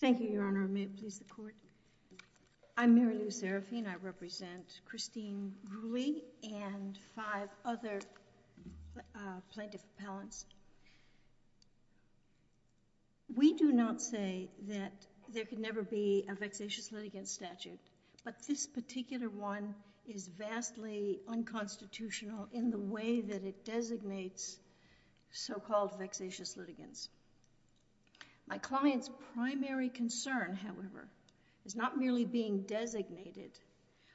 Thank you, Your Honor. May it please the Court? I'm Mary Lou Serafine. I represent Christine Reule and five other plaintiff appellants. We do not say that there could never be a vexatious litigant statute, but this particular one is vastly unconstitutional in the way that it designates so-called vexatious litigants. My client's primary concern, however, is not merely being designated,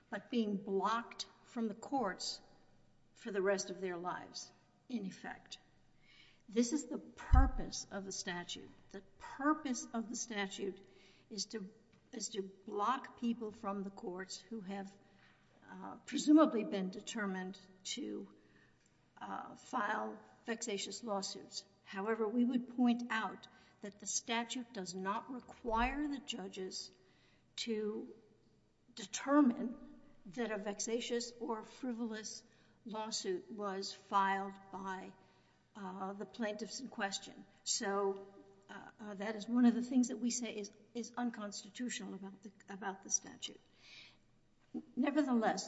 but being blocked from the courts for the rest of their lives, in effect. This is the purpose of the statute. The purpose of the statute is to block people from the courts who have presumably been determined to file vexatious lawsuits. However, we would point out that the statute does not require the judges to determine that a vexatious or frivolous lawsuit was filed by the plaintiffs in question. So that is one of the things that we say is unconstitutional about the statute. Nevertheless,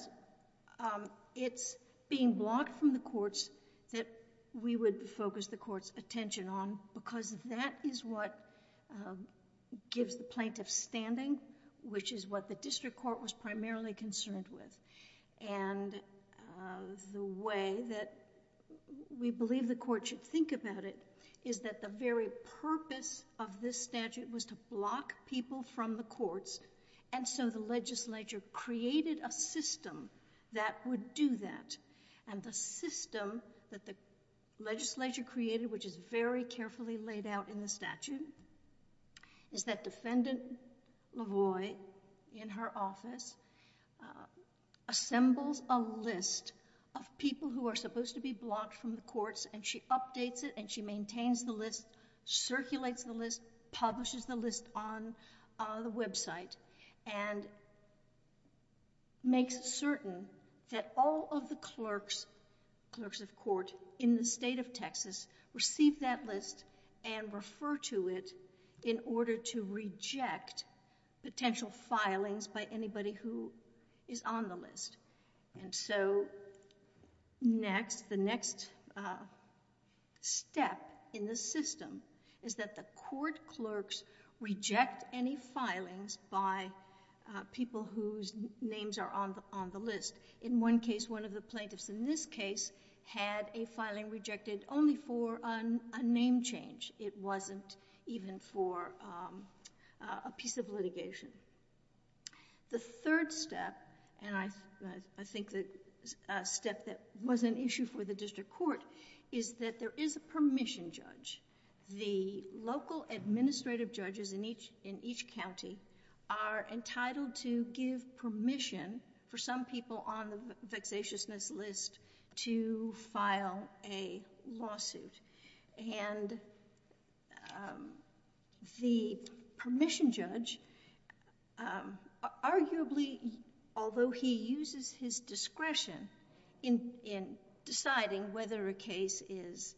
it's being blocked from the courts that we would focus the court's attention on, because that is what gives the plaintiff standing, which is what the district court was primarily concerned with. And the way that we believe the court should think about it is that the very purpose of this statute was to block people from the courts, and so the legislature created a system that would do that. And the system that the legislature created, which is very carefully laid out in the statute, is that Defendant Lavoie, in her office, assembles a list of people who are supposed to be blocked from the courts, and she updates it, and she maintains the list, circulates the list, publishes the list on the website, and makes it certain that all of the clerks, clerks of court in the state of Texas, receive that list and refer to it in order to reject potential filings by anybody who is on the list. And so next, the next step in the system is that the court clerks reject any filings by people whose names are on the list. In one case, one of the plaintiffs in this case had a filing rejected only for a name change. It wasn't even for a piece of litigation. The third step, and I think the step that was an issue for the district court, is that there is a permission judge. The local administrative judges in each county are entitled to give permission for some people on the vexatiousness list to file a lawsuit. And the permission judge, arguably, although he uses his discretion in deciding whether a case is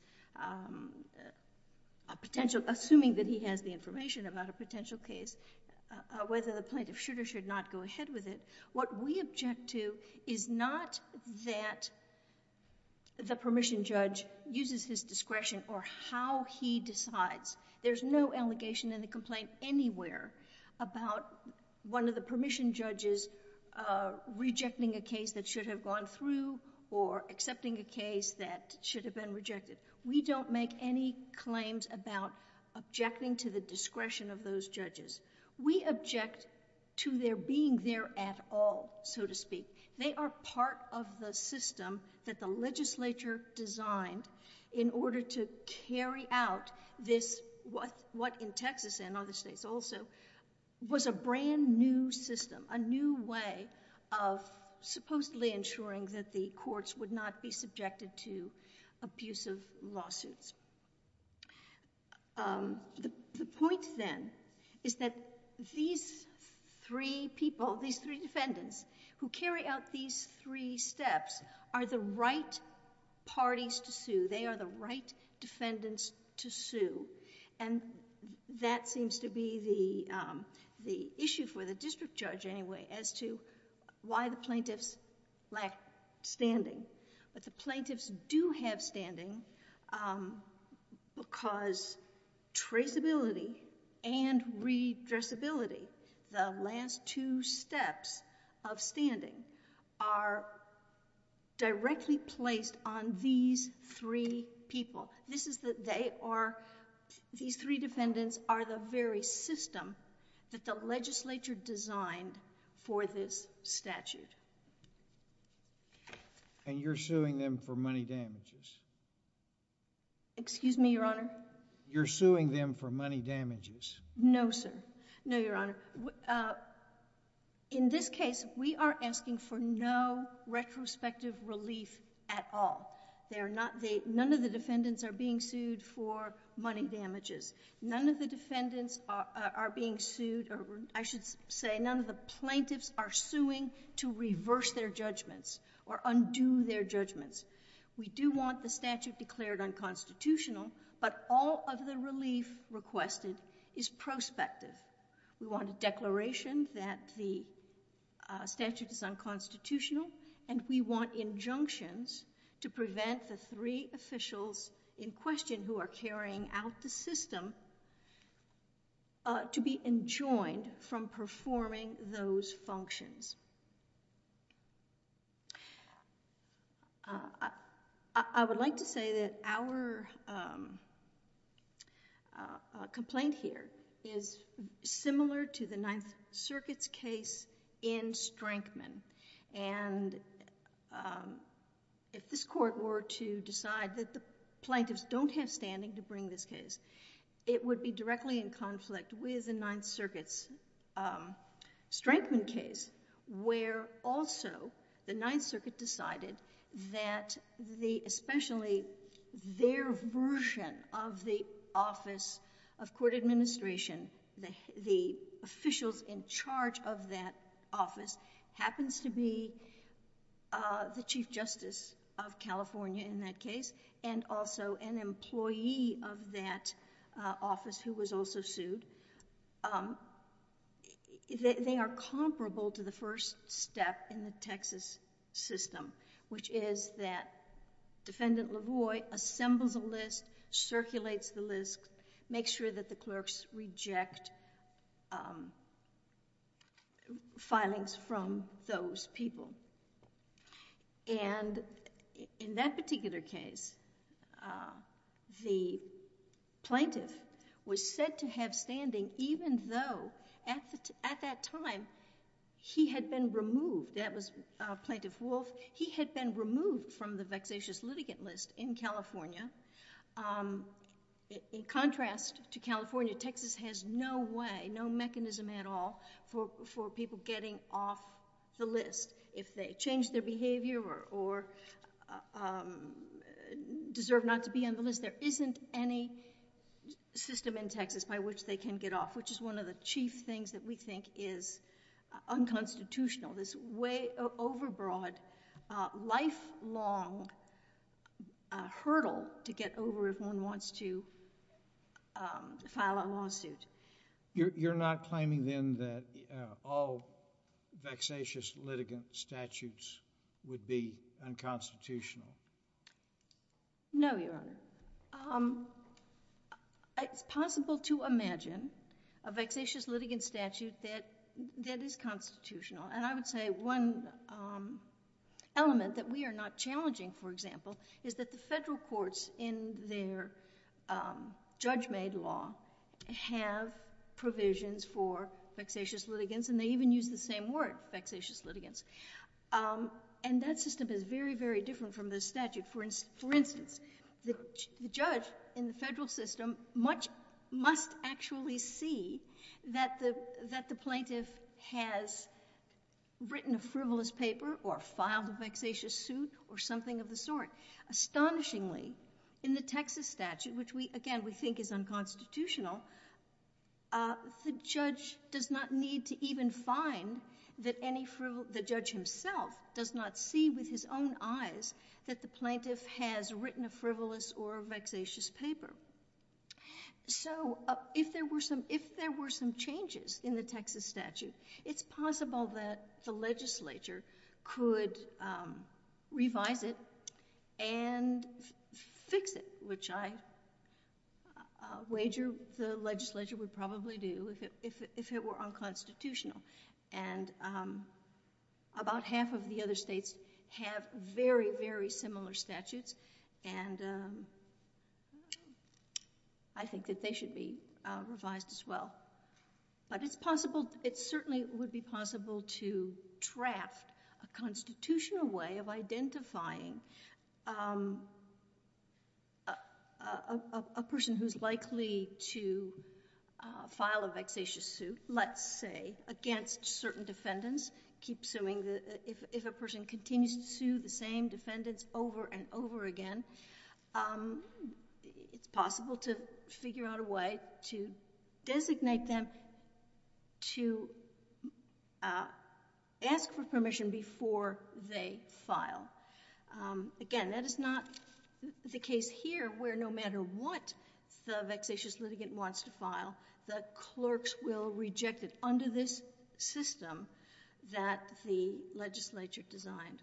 a potential, assuming that he has the information about a potential case, whether the plaintiff should or should not go ahead with it, what we object to is not that the permission judge uses his discretion or how he decides. There's no allegation in the complaint anywhere about one of the permission judges rejecting a case that should have gone through or accepting a case that should have been rejected. We don't make any claims about objecting to the discretion of those judges. We object to their being there at all, so to speak. They are part of the system that the legislature designed in order to carry out what in Texas and other states also was a brand new system, a new way of supposedly ensuring that the courts would not be subjected to abusive lawsuits. The point then is that these three people, these three defendants, who carry out these three steps are the right parties to sue. They are the right defendants to sue. And that seems to be the issue for the district judge anyway as to why the plaintiffs lack standing. But the plaintiffs do have standing because traceability and redressability, the last two steps of standing, are directly placed on these three people. These three defendants are the very system that the legislature designed for this statute. And you're suing them for money damages? Excuse me, Your Honor? You're suing them for money damages? No, sir. No, Your Honor. In this case, we are asking for no retrospective relief at all. None of the defendants are being sued for money damages. None of the defendants are being sued, or I should say none of the plaintiffs are suing to reverse their judgments or undo their judgments. We do want the statute declared unconstitutional, but all of the relief requested is prospective. We want a declaration that the statute is unconstitutional, and we want injunctions to prevent the three officials in question who are carrying out the system to be enjoined from performing those functions. I would like to say that our complaint here is similar to the Ninth Circuit's case in Strankman. And if this court were to decide that the plaintiffs don't have standing to bring this case, it would be directly in conflict with the Ninth Circuit's Strankman case, where also the Ninth Circuit decided that especially their version of the Office of Court Administration, the officials in charge of that office happens to be the Chief Justice of California in that case, and also an employee of that office who was also sued. They are comparable to the first step in the Texas system, which is that Defendant LaVoy assembles a list, circulates the list, makes sure that the clerks reject filings from those people. And in that particular case, the plaintiff was said to have standing, even though at that time, he had been removed. That was Plaintiff Wolf. He had been removed from the vexatious litigant list in California. In contrast to California, Texas has no way, no mechanism at all for people getting off the list. If they change their behavior or deserve not to be on the list, there isn't any system in Texas by which they can get off, which is one of the chief things that we think is unconstitutional, this way overbroad, lifelong hurdle to get over if one wants to file a lawsuit. You're not claiming then that all vexatious litigant statutes would be unconstitutional? No, Your Honor. It's possible to imagine a vexatious litigant statute that is constitutional. And I would say one element that we are not challenging, for example, is that the federal courts in their judge-made law have provisions for vexatious litigants, and they even use the same word, vexatious litigants. And that system is very, very different from the statute. For instance, the judge in the federal system must actually see that the plaintiff has written a frivolous paper or filed a vexatious suit or something of the sort. Astonishingly, in the Texas statute, which we, again, we think is unconstitutional, the judge does not need to even find that any frivolous, the judge himself does not see with his own eyes that the plaintiff has written a frivolous or a vexatious paper. So if there were some changes in the Texas statute, it's possible that the legislature could revise it and fix it, which I wager the legislature would probably do if it were unconstitutional. And about half of the other states have very, very similar statutes, and I think that they should be revised as well. But it's possible, it certainly would be possible to draft a constitutional way of identifying a person who's likely to file a vexatious suit, let's say, against certain defendants, keep suing, if a person continues to sue the same defendants over and over again, it's possible to figure out a way to designate them to ask for permission before they file. Again, that is not the case here, where no matter what the vexatious litigant wants to file, the clerks will reject it under this system that the legislature designed.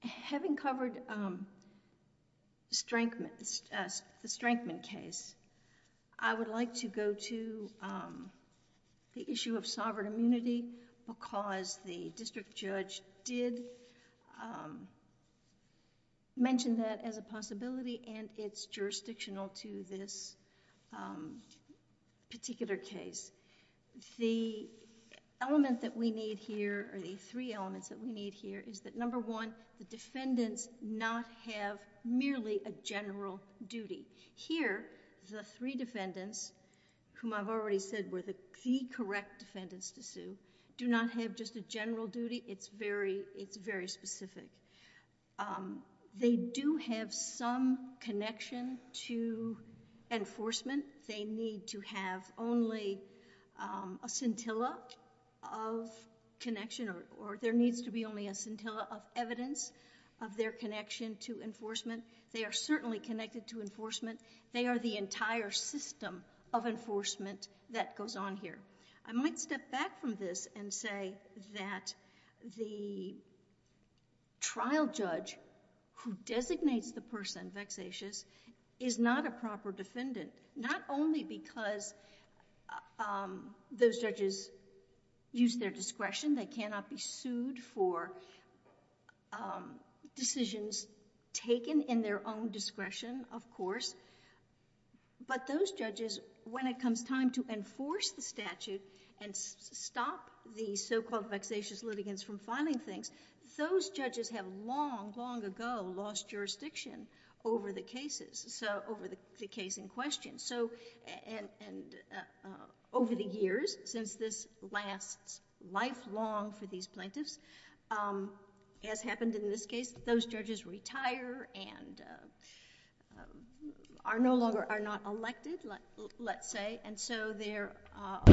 Having covered the Strankman case, I would like to go to the issue of sovereign immunity because the district judge did mention that as a possibility and it's jurisdictional to this particular case. The element that we need here, or the three elements that we need here, is that number one, the defendants not have merely a general duty. Here, the three defendants, whom I've already said were the correct defendants to sue, do not have just a general duty, it's very specific. They do have some connection to enforcement. They need to have only a scintilla of connection or there needs to be only a scintilla of evidence of their connection to enforcement. They are certainly connected to enforcement. They are the entire system of enforcement that goes on here. I might step back from this and say that the trial judge who designates the person vexatious is not a proper defendant, not only because those judges use their discretion. They cannot be sued for decisions taken in their own discretion, of course, but those judges, when it comes time to enforce the statute and stop the so-called vexatious litigants from filing things, those judges have long, long ago lost jurisdiction over the cases, over the case in question. Over the years, since this lasts lifelong for these plaintiffs, as happened in this case, those judges retire and are no longer, are not elected, let's say, and so they're not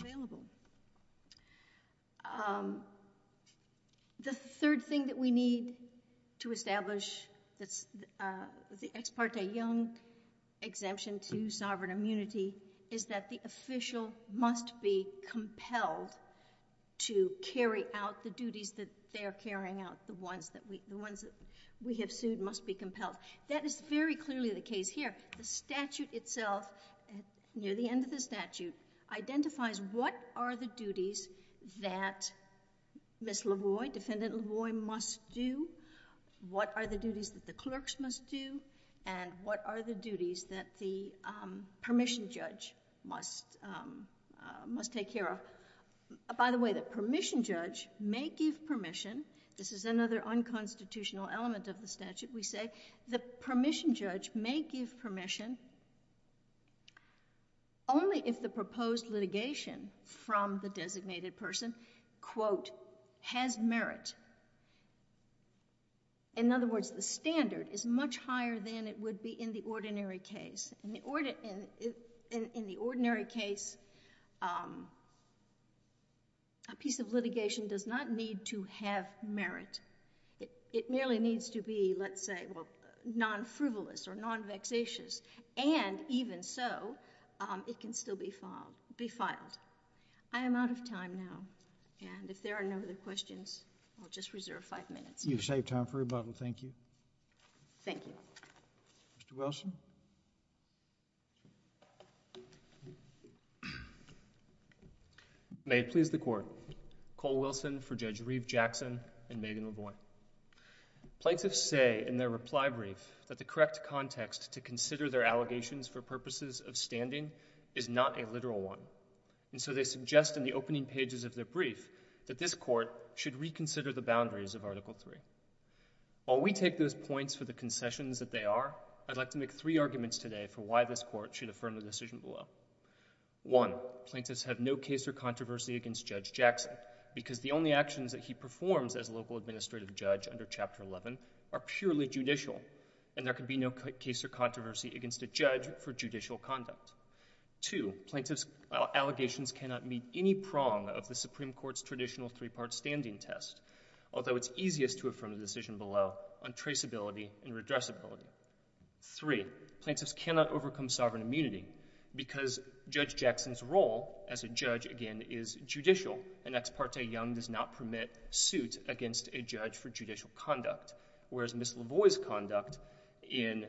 available. The third thing that we need to establish, the Ex parte Young Exemption to Sovereign Immunity, is that the official must be compelled to carry out the duties that they are carrying out, the ones that we have sued must be compelled. That is very clearly the case here. The statute itself, near the end of the statute, identifies what are the duties that Ms. Lavoie, Defendant Lavoie, must do, what are the duties that the clerks must do, and what are the duties that the permission judge must take care of. By the way, the permission judge may give permission. This is another unconstitutional element of the statute. The permission judge may give permission only if the proposed litigation from the designated person, quote, has merit. In other words, the standard is much higher than it would be in the ordinary case. In the ordinary case, a piece of litigation does not need to have merit. It merely needs to be, let's say, well, non-frivolous or non-vexatious, and even so, it can still be filed, be filed. I am out of time now, and if there are no other questions, I'll just reserve five minutes. You've saved time for rebuttal. Thank you. Thank you. Mr. Wilson? May it please the Court. Cole Wilson for Judge Reeve Jackson and Megan Lavoie. Plaintiffs say in their reply brief that the correct context to consider their allegations for purposes of standing is not a literal one, and so they suggest in the opening pages of their brief that this Court should reconsider the boundaries of Article III. While we take those points for the concessions that they are, I'd like to make three points for why this Court should affirm the decision below. One, plaintiffs have no case or controversy against Judge Jackson, because the only actions that he performs as local administrative judge under Chapter 11 are purely judicial, and there can be no case or controversy against a judge for judicial conduct. Two, plaintiffs' allegations cannot meet any prong of the Supreme Court's traditional three-part standing test, although it's easiest to affirm the decision below on traceability and redressability. Three, plaintiffs cannot overcome sovereign immunity because Judge Jackson's role as a judge, again, is judicial. An ex parte young does not permit suit against a judge for judicial conduct, whereas Ms. Lavoie's conduct in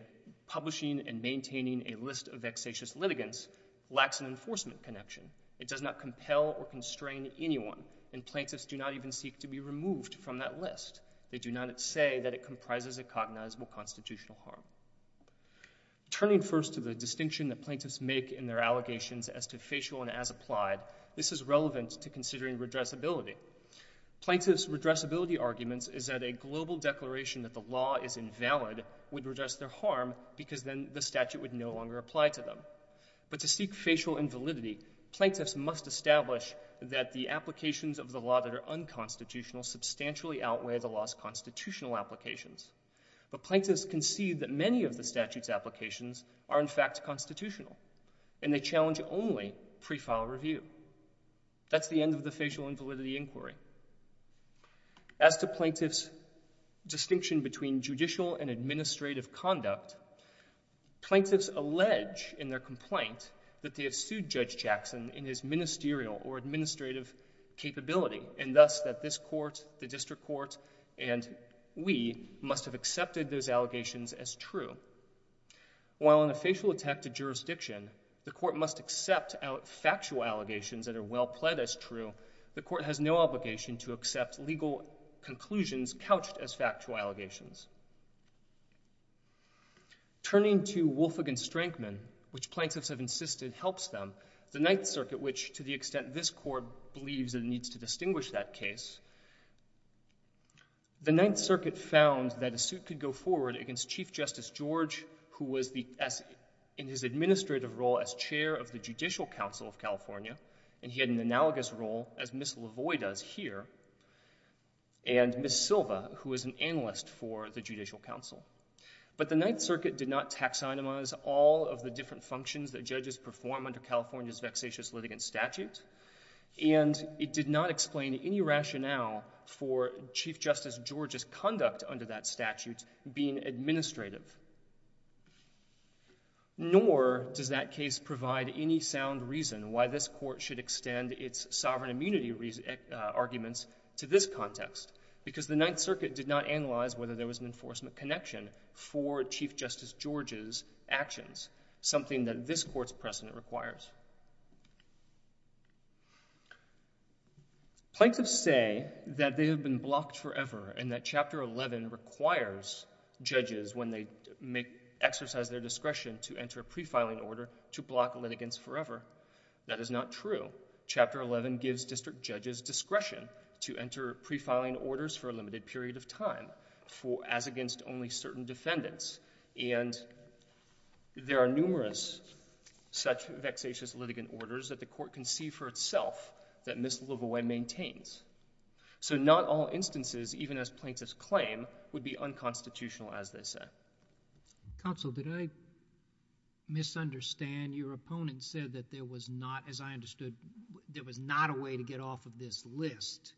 publishing and maintaining a list of vexatious litigants lacks an enforcement connection. It does not compel or constrain anyone, and plaintiffs do not even seek to be removed from that list. They do not say that it comprises a cognizable constitutional harm. Turning first to the distinction that plaintiffs make in their allegations as to facial and as applied, this is relevant to considering redressability. Plaintiffs' redressability arguments is that a global declaration that the law is invalid would redress their harm, because then the statute would no longer apply to them. But to seek facial invalidity, plaintiffs must establish that the applications of the unconstitutional substantially outweigh the law's constitutional applications. But plaintiffs concede that many of the statute's applications are, in fact, constitutional, and they challenge only pre-file review. That's the end of the facial invalidity inquiry. As to plaintiffs' distinction between judicial and administrative conduct, plaintiffs allege in their complaint that they have sued Judge Jackson in his ministerial or administrative capability, and thus that this court, the district court, and we must have accepted those allegations as true. While in a facial attack to jurisdiction, the court must accept out factual allegations that are well pled as true, the court has no obligation to accept legal conclusions couched as factual allegations. Turning to Wolff v. Strankman, which plaintiffs have insisted helps them, the Ninth Circuit believes, and needs to distinguish that case. The Ninth Circuit found that a suit could go forward against Chief Justice George, who was in his administrative role as chair of the Judicial Council of California, and he had an analogous role, as Ms. Lavoie does here, and Ms. Silva, who is an analyst for the Judicial Council. But the Ninth Circuit did not taxonomize all of the different functions that judges perform under California's vexatious litigant statute, and it did not explain any rationale for Chief Justice George's conduct under that statute being administrative. Nor does that case provide any sound reason why this court should extend its sovereign immunity arguments to this context, because the Ninth Circuit did not analyze whether there was an enforcement connection for Chief Justice George's actions, something that this court's precedent requires. Plaintiffs say that they have been blocked forever and that Chapter 11 requires judges, when they exercise their discretion to enter a pre-filing order, to block litigants forever. That is not true. Chapter 11 gives district judges discretion to enter pre-filing orders for a limited period of time, as against only certain defendants. And there are numerous such vexatious litigant orders that the court can see for itself that Ms. Lavoie maintains. So not all instances, even as plaintiffs claim, would be unconstitutional, as they say. Counsel, did I misunderstand? Your opponent said that there was not, as I understood, there was not a way to get off of this list.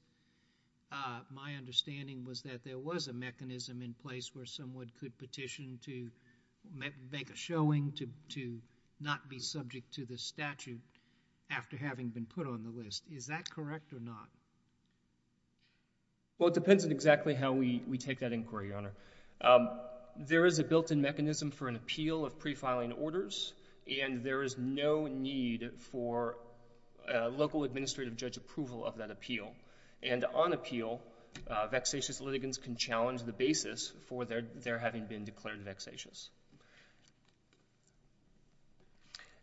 My understanding was that there was a mechanism in place where someone could petition to make a showing to not be subject to the statute after having been put on the list. Is that correct or not? Well, it depends on exactly how we take that inquiry, Your Honor. There is a built-in mechanism for an appeal of pre-filing orders, and there is no need for local administrative judge approval of that appeal. And on appeal, vexatious litigants can challenge the basis for their having been declared vexatious.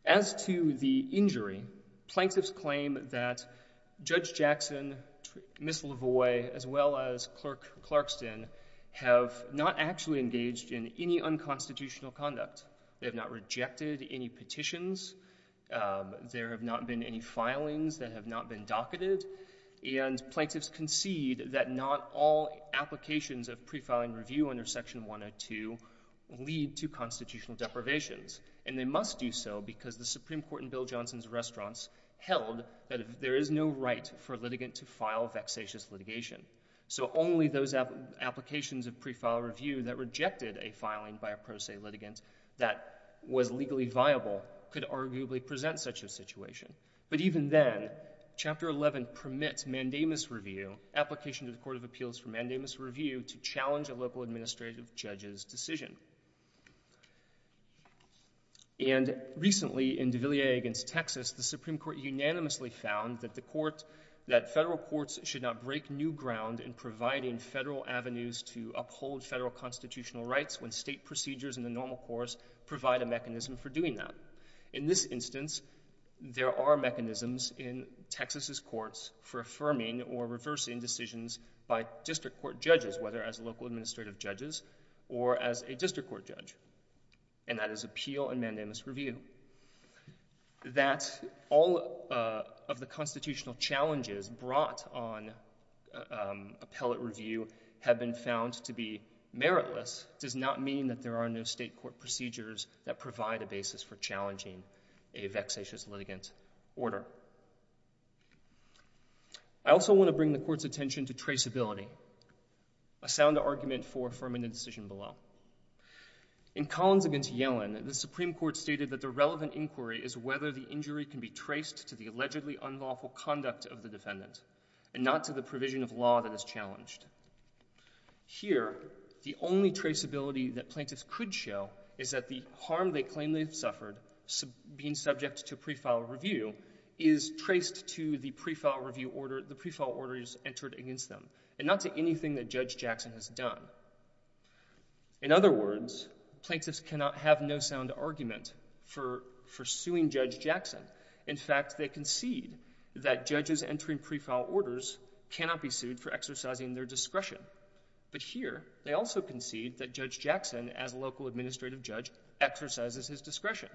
As to the injury, plaintiffs claim that Judge Jackson, Ms. Lavoie, as well as Clerk Clarkston have not actually engaged in any unconstitutional conduct. They have not rejected any petitions. There have not been any filings that have not been docketed. And plaintiffs concede that not all applications of pre-filing review under Section 102 lead to constitutional deprivations. And they must do so because the Supreme Court in Bill Johnson's restaurants held that there is no right for a litigant to file vexatious litigation. So only those applications of pre-file review that rejected a filing by a pro se litigant that was legally viable could arguably present such a situation. But even then, Chapter 11 permits mandamus review, application to the Court of Appeals for mandamus review, to challenge a local administrative judge's decision. And recently in de Villiers against Texas, the Supreme Court unanimously found that the court, that federal courts should not break new ground in providing federal avenues to uphold federal constitutional rights when state procedures in the normal course provide a mechanism for doing that. In this instance, there are mechanisms in Texas's courts for affirming or reversing decisions by district court judges, whether as local administrative judges or as a district court judge. And that is appeal and mandamus review. That all of the constitutional challenges brought on appellate review have been found to be meritless does not mean that there are no state court procedures that provide a basis for challenging a vexatious litigant order. I also want to bring the court's attention to traceability, a sound argument for affirming the decision below. In Collins against Yellen, the Supreme Court stated that the relevant inquiry is whether the injury can be traced to the allegedly unlawful conduct of the defendant and not to the provision of law that is challenged. Here, the only traceability that plaintiffs could show is that the harm they claim they have suffered being subject to pre-file review is traced to the pre-file review order, the pre-file orders entered against them and not to anything that Judge Jackson has done. In other words, plaintiffs cannot have no sound argument for suing Judge Jackson. In fact, they concede that judges entering pre-file orders cannot be sued for exercising their discretion, but here they also concede that Judge Jackson as a local administrative judge exercises his discretion.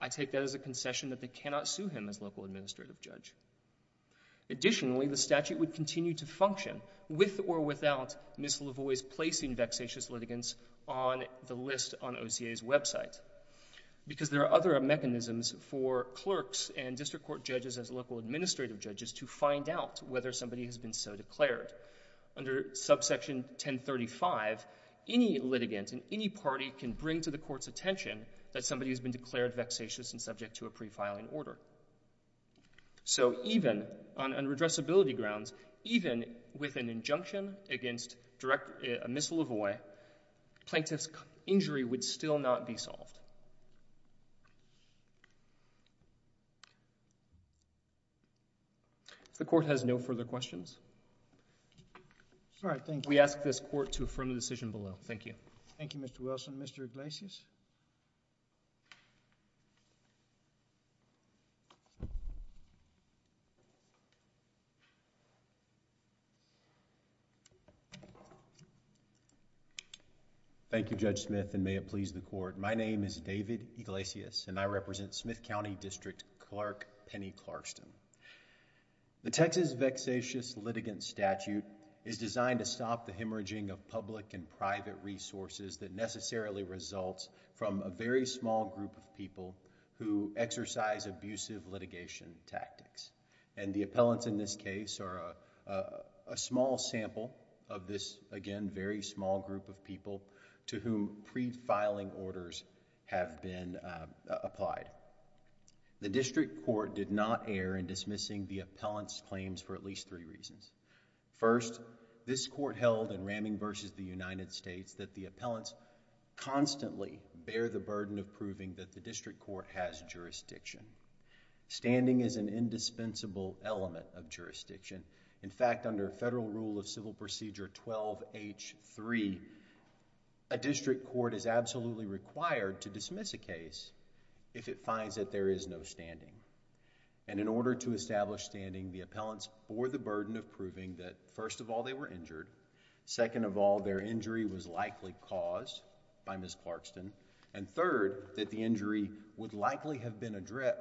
I take that as a concession that they cannot sue him as local administrative judge. Additionally, the statute would continue to function with or without Ms. Lavoie's placing vexatious litigants on the list on OCA's website because there are other mechanisms for clerks and district court judges as local administrative judges to find out whether somebody has been so declared. Under subsection 1035, any litigant in any party can bring to the court's attention that somebody has been declared vexatious and subject to a pre-filing order. So even on redressability grounds, even with an injunction against Ms. Lavoie, plaintiff's injury would still not be solved. If the court has no further questions. We ask this court to affirm the decision below. Thank you. Thank you, Mr. Wilson. Mr. Iglesias. Thank you, Judge Smith and may it please the court. My name is David Iglesias and I represent Smith County District Clerk Penny Clarkston. The Texas vexatious litigant statute is designed to stop the hemorrhaging of public and private resources that necessarily results from a very small group of people who exercise abusive litigation tactics and the appellants in this case are a small sample of this, again, very small group of people to whom pre-filing orders have been applied. The district court did not err in dismissing the appellant's claims for at least three reasons. First, this court held in Ramming v. the United States that the appellants constantly bear the burden of proving that the district court has jurisdiction. Standing is an indispensable element of jurisdiction. In fact, under Federal Rule of Civil Procedure 12H3, a district court is absolutely required to dismiss a case if it finds that there is no standing and in order to establish standing, the appellants bore the burden of proving that, first of all, they were injured. Second of all, their injury was likely caused by Ms. Clarkston and third, that the injury would likely have been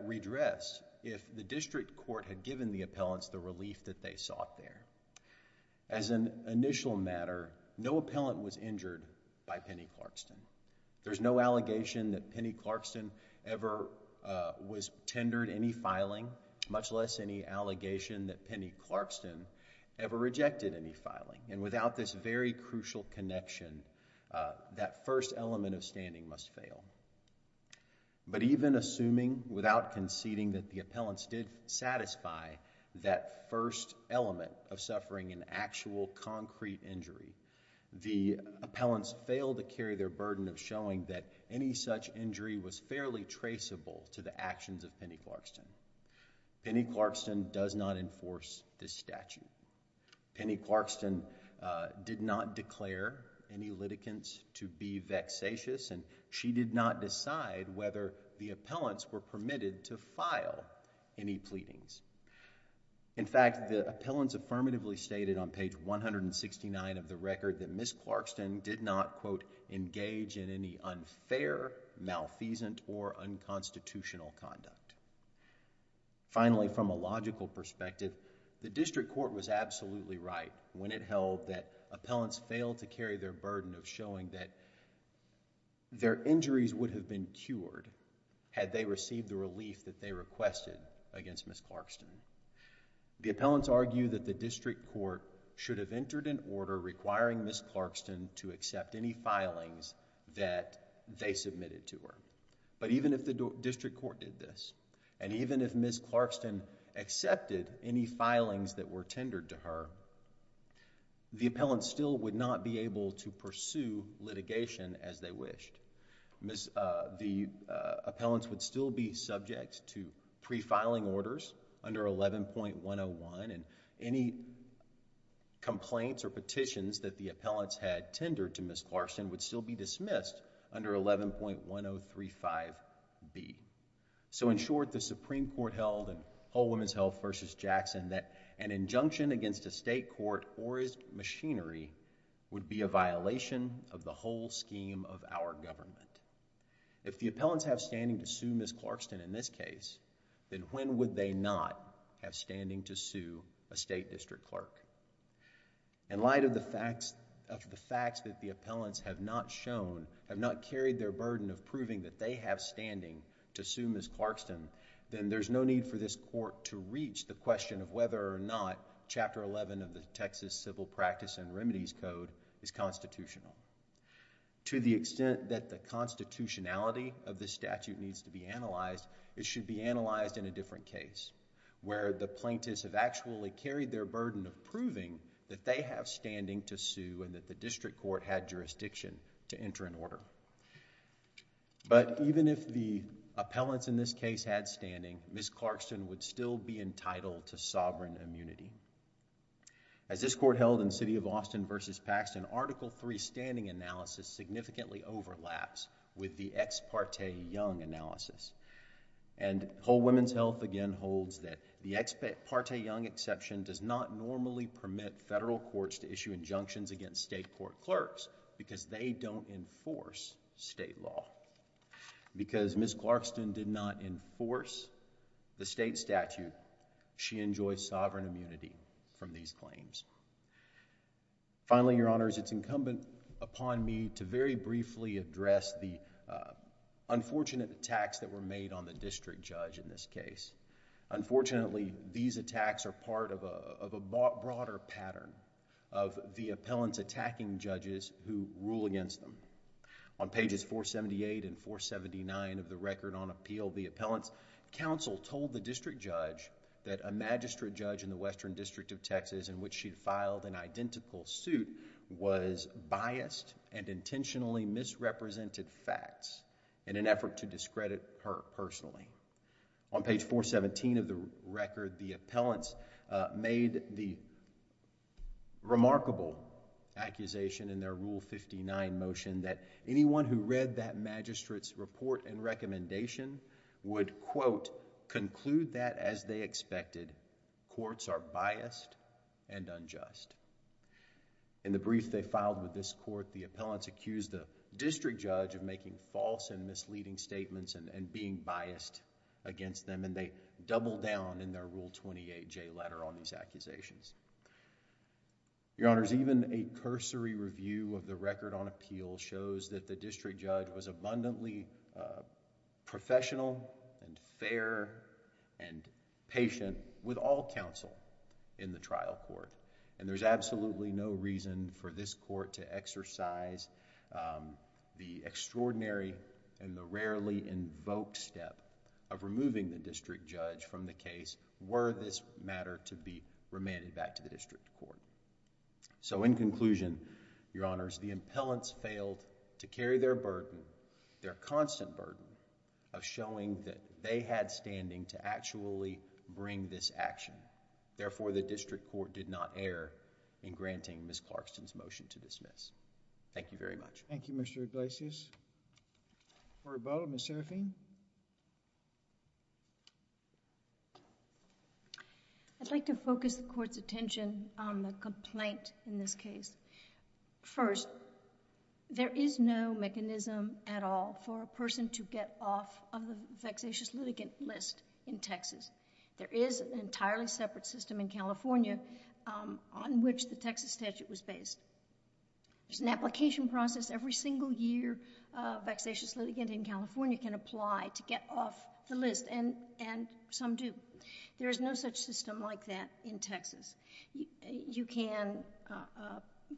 redressed if the district court had given the appellants the relief that they sought there. As an initial matter, no appellant was injured by Penny Clarkston. There's no allegation that Penny Clarkston ever was tendered any filing, much less any allegation that Penny Clarkston ever rejected any filing. And without this very crucial connection, that first element of standing must fail. But even assuming without conceding that the appellants did satisfy that first element of suffering an actual concrete injury, the appellants failed to carry their burden of showing that any such injury was fairly traceable to the actions of Penny Clarkston. Penny Clarkston does not enforce this statute. Penny Clarkston did not declare any litigants to be vexatious and she did not decide whether the appellants were permitted to file any pleadings. In fact, the appellants affirmatively stated on page 169 of the record that Ms. Clarkston did not, quote, engage in any unfair, malfeasant, or unconstitutional conduct. Finally, from a logical perspective, the district court was absolutely right when it held that appellants failed to carry their burden of showing that their injuries would have been had they received the relief that they requested against Ms. Clarkston. The appellants argue that the district court should have entered an order requiring Ms. Clarkston to accept any filings that they submitted to her. But even if the district court did this, and even if Ms. Clarkston accepted any filings that were tendered to her, the appellants still would not be able to pursue litigation as they wished. Ms.... the appellants would still be subject to pre-filing orders under 11.101 and any complaints or petitions that the appellants had tendered to Ms. Clarkston would still be dismissed under 11.1035B. So in short, the Supreme Court held in Whole Women's Health v. Jackson that an injunction against a state court or its machinery would be a violation of the whole scheme of our government. If the appellants have standing to sue Ms. Clarkston in this case, then when would they not have standing to sue a state district clerk? In light of the facts that the appellants have not shown, have not carried their burden of proving that they have standing to sue Ms. Clarkston, then there's no need for this court to reach the question of whether or not Chapter 11 of the Texas Civil Practice and Remedies Code is constitutional. To the extent that the constitutionality of this statute needs to be analyzed, it should be analyzed in a different case where the plaintiffs have actually carried their burden of proving that they have standing to sue and that the district court had jurisdiction to enter an order. But even if the appellants in this case had standing, Ms. Clarkston would still be entitled to sovereign immunity. As this court held in City of Austin v. Paxton, Article III standing analysis significantly overlaps with the Ex Parte Young analysis. And Whole Women's Health again holds that the Ex Parte Young exception does not normally permit federal courts to issue injunctions against state court clerks because they don't enforce state law. Because Ms. Clarkston did not enforce the state statute, she enjoys sovereign immunity from these claims. Finally, Your Honors, it's incumbent upon me to very briefly address the unfortunate attacks that were made on the district judge in this case. Unfortunately, these attacks are part of a broader pattern of the appellants attacking judges who rule against them. On pages 478 and 479 of the Record on Appeal, the appellants' counsel told the district judge that a magistrate judge in the Western District of Texas in which she had filed an identical suit was biased and intentionally misrepresented facts in an effort to discredit her personally. On page 417 of the Record, the appellants made the remarkable accusation in their Rule 59 motion that anyone who read that magistrate's report and recommendation would, quote, conclude that, as they expected, courts are biased and unjust. In the brief they filed with this court, the appellants accused the district judge of making false and misleading statements and being biased against them, and they double down in their Rule 28J letter on these accusations. Your Honors, even a cursory review of the Record on Appeal shows that the district judge was abundantly professional and fair and patient with all counsel in the trial court. There's absolutely no reason for this court to exercise the extraordinary and the rarely invoked step of removing the district judge from the case were this matter to be remanded back to the district court. So, in conclusion, Your Honors, the appellants failed to carry their burden, their constant burden of showing that they had standing to actually bring this action. Therefore, the district court did not err in granting Ms. Clarkston's motion to dismiss. Thank you very much. Thank you, Mr. Iglesias. Orabella, Ms. Serafine. I'd like to focus the court's attention on the complaint in this case. First, there is no mechanism at all for a person to get off of the vexatious litigant list in Texas. There is an entirely separate system in California on which the Texas statute was based. There's an application process every single year. Vexatious litigant in California can apply to get off the list, and some do. There is no such system like that in Texas. You can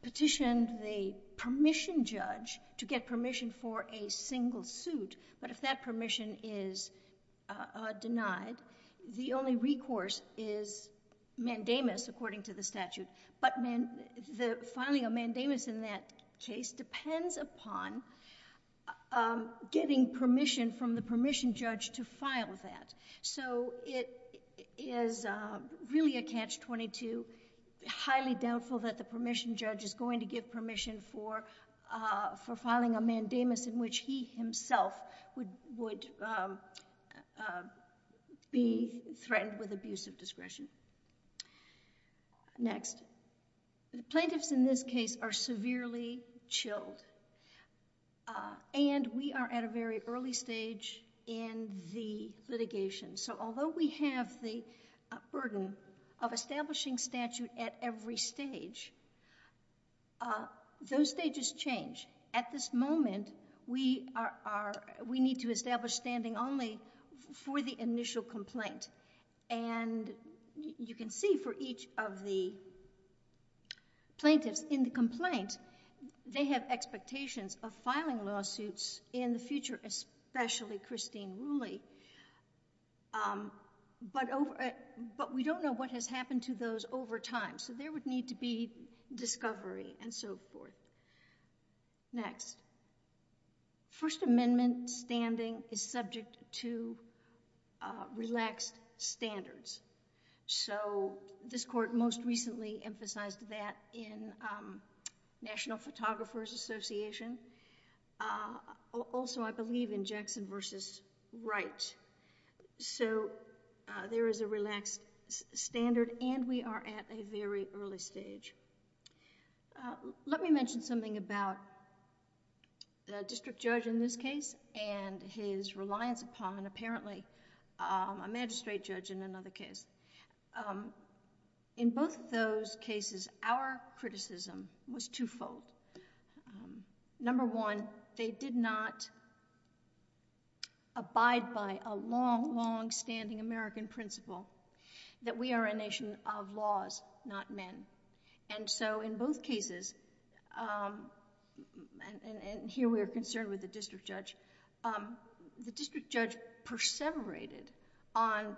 petition the permission judge to get permission for a single suit, but if that permission is denied, the only recourse is mandamus, according to the statute. The filing of mandamus in that case depends upon getting permission from the permission judge to file that. It is really a catch-22, highly doubtful that the permission judge is going to give permission for filing a mandamus in which he himself would be threatened with abusive discretion. Next, the plaintiffs in this case are severely chilled, and we are at a very early stage in the litigation. Although we have the burden of establishing statute at every stage, those stages change. At this moment, we need to establish standing only for the initial complaint. And you can see for each of the plaintiffs in the complaint, they have expectations of filing lawsuits in the future, especially Christine Rooley, but we don't know what has happened to those over time. There would need to be discovery and so forth. Next, First Amendment standing is subject to relaxed standards. This court most recently emphasized that in National Photographers Association, also, I believe, in Jackson v. Wright. There is a relaxed standard, and we are at a very early stage. Let me mention something about the district judge in this case and his reliance upon, apparently, a magistrate judge in another case. In both of those cases, our criticism was twofold. Number one, they did not abide by a long, long-standing American principle that we are a nation of laws, not men. And so, in both cases, and here we are concerned with the district judge, the district judge perseverated on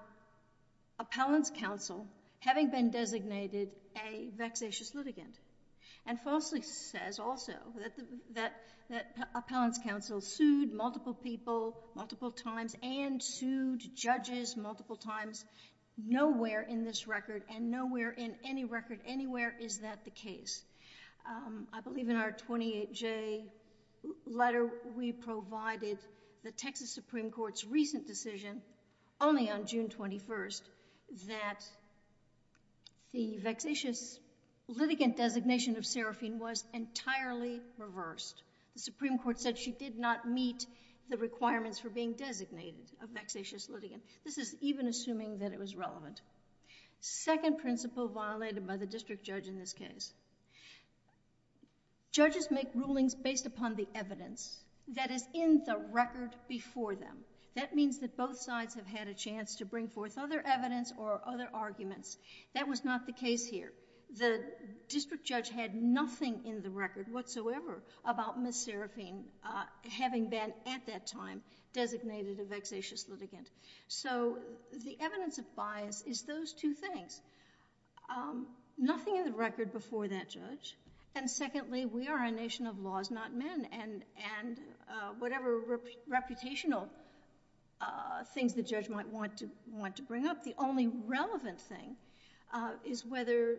appellant's counsel having been designated a vexatious litigant and falsely says also that appellant's counsel sued multiple people multiple times and sued judges multiple times. Nowhere in this record and nowhere in any record anywhere is that the case. I believe in our 28J letter, we provided the Texas Supreme Court's recent decision only on June 21st that the vexatious litigant designation of seraphine was entirely reversed. The Supreme Court said she did not meet the requirements for being designated a vexatious litigant. This is even assuming that it was relevant. Second principle violated by the district judge in this case, judges make rulings based upon the evidence that is in the record before them. That means that both sides have had a chance to bring forth other evidence or other arguments. That was not the case here. The district judge had nothing in the record whatsoever about Ms. Seraphine having been at that time designated a vexatious litigant. The evidence of bias is those two things. Nothing in the record before that judge. Secondly, we are a nation of laws not men and whatever reputational things the judge might want to bring up, the only relevant thing is whether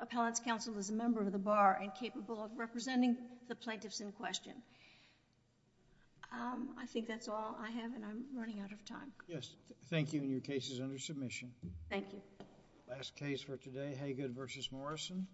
appellant's counsel is a member of the bar and capable of representing the plaintiffs in question. I think that's all I have and I'm running out of time. Yes. Thank you and your case is under submission. Thank you. Last case for today, Hagood v. Morrison.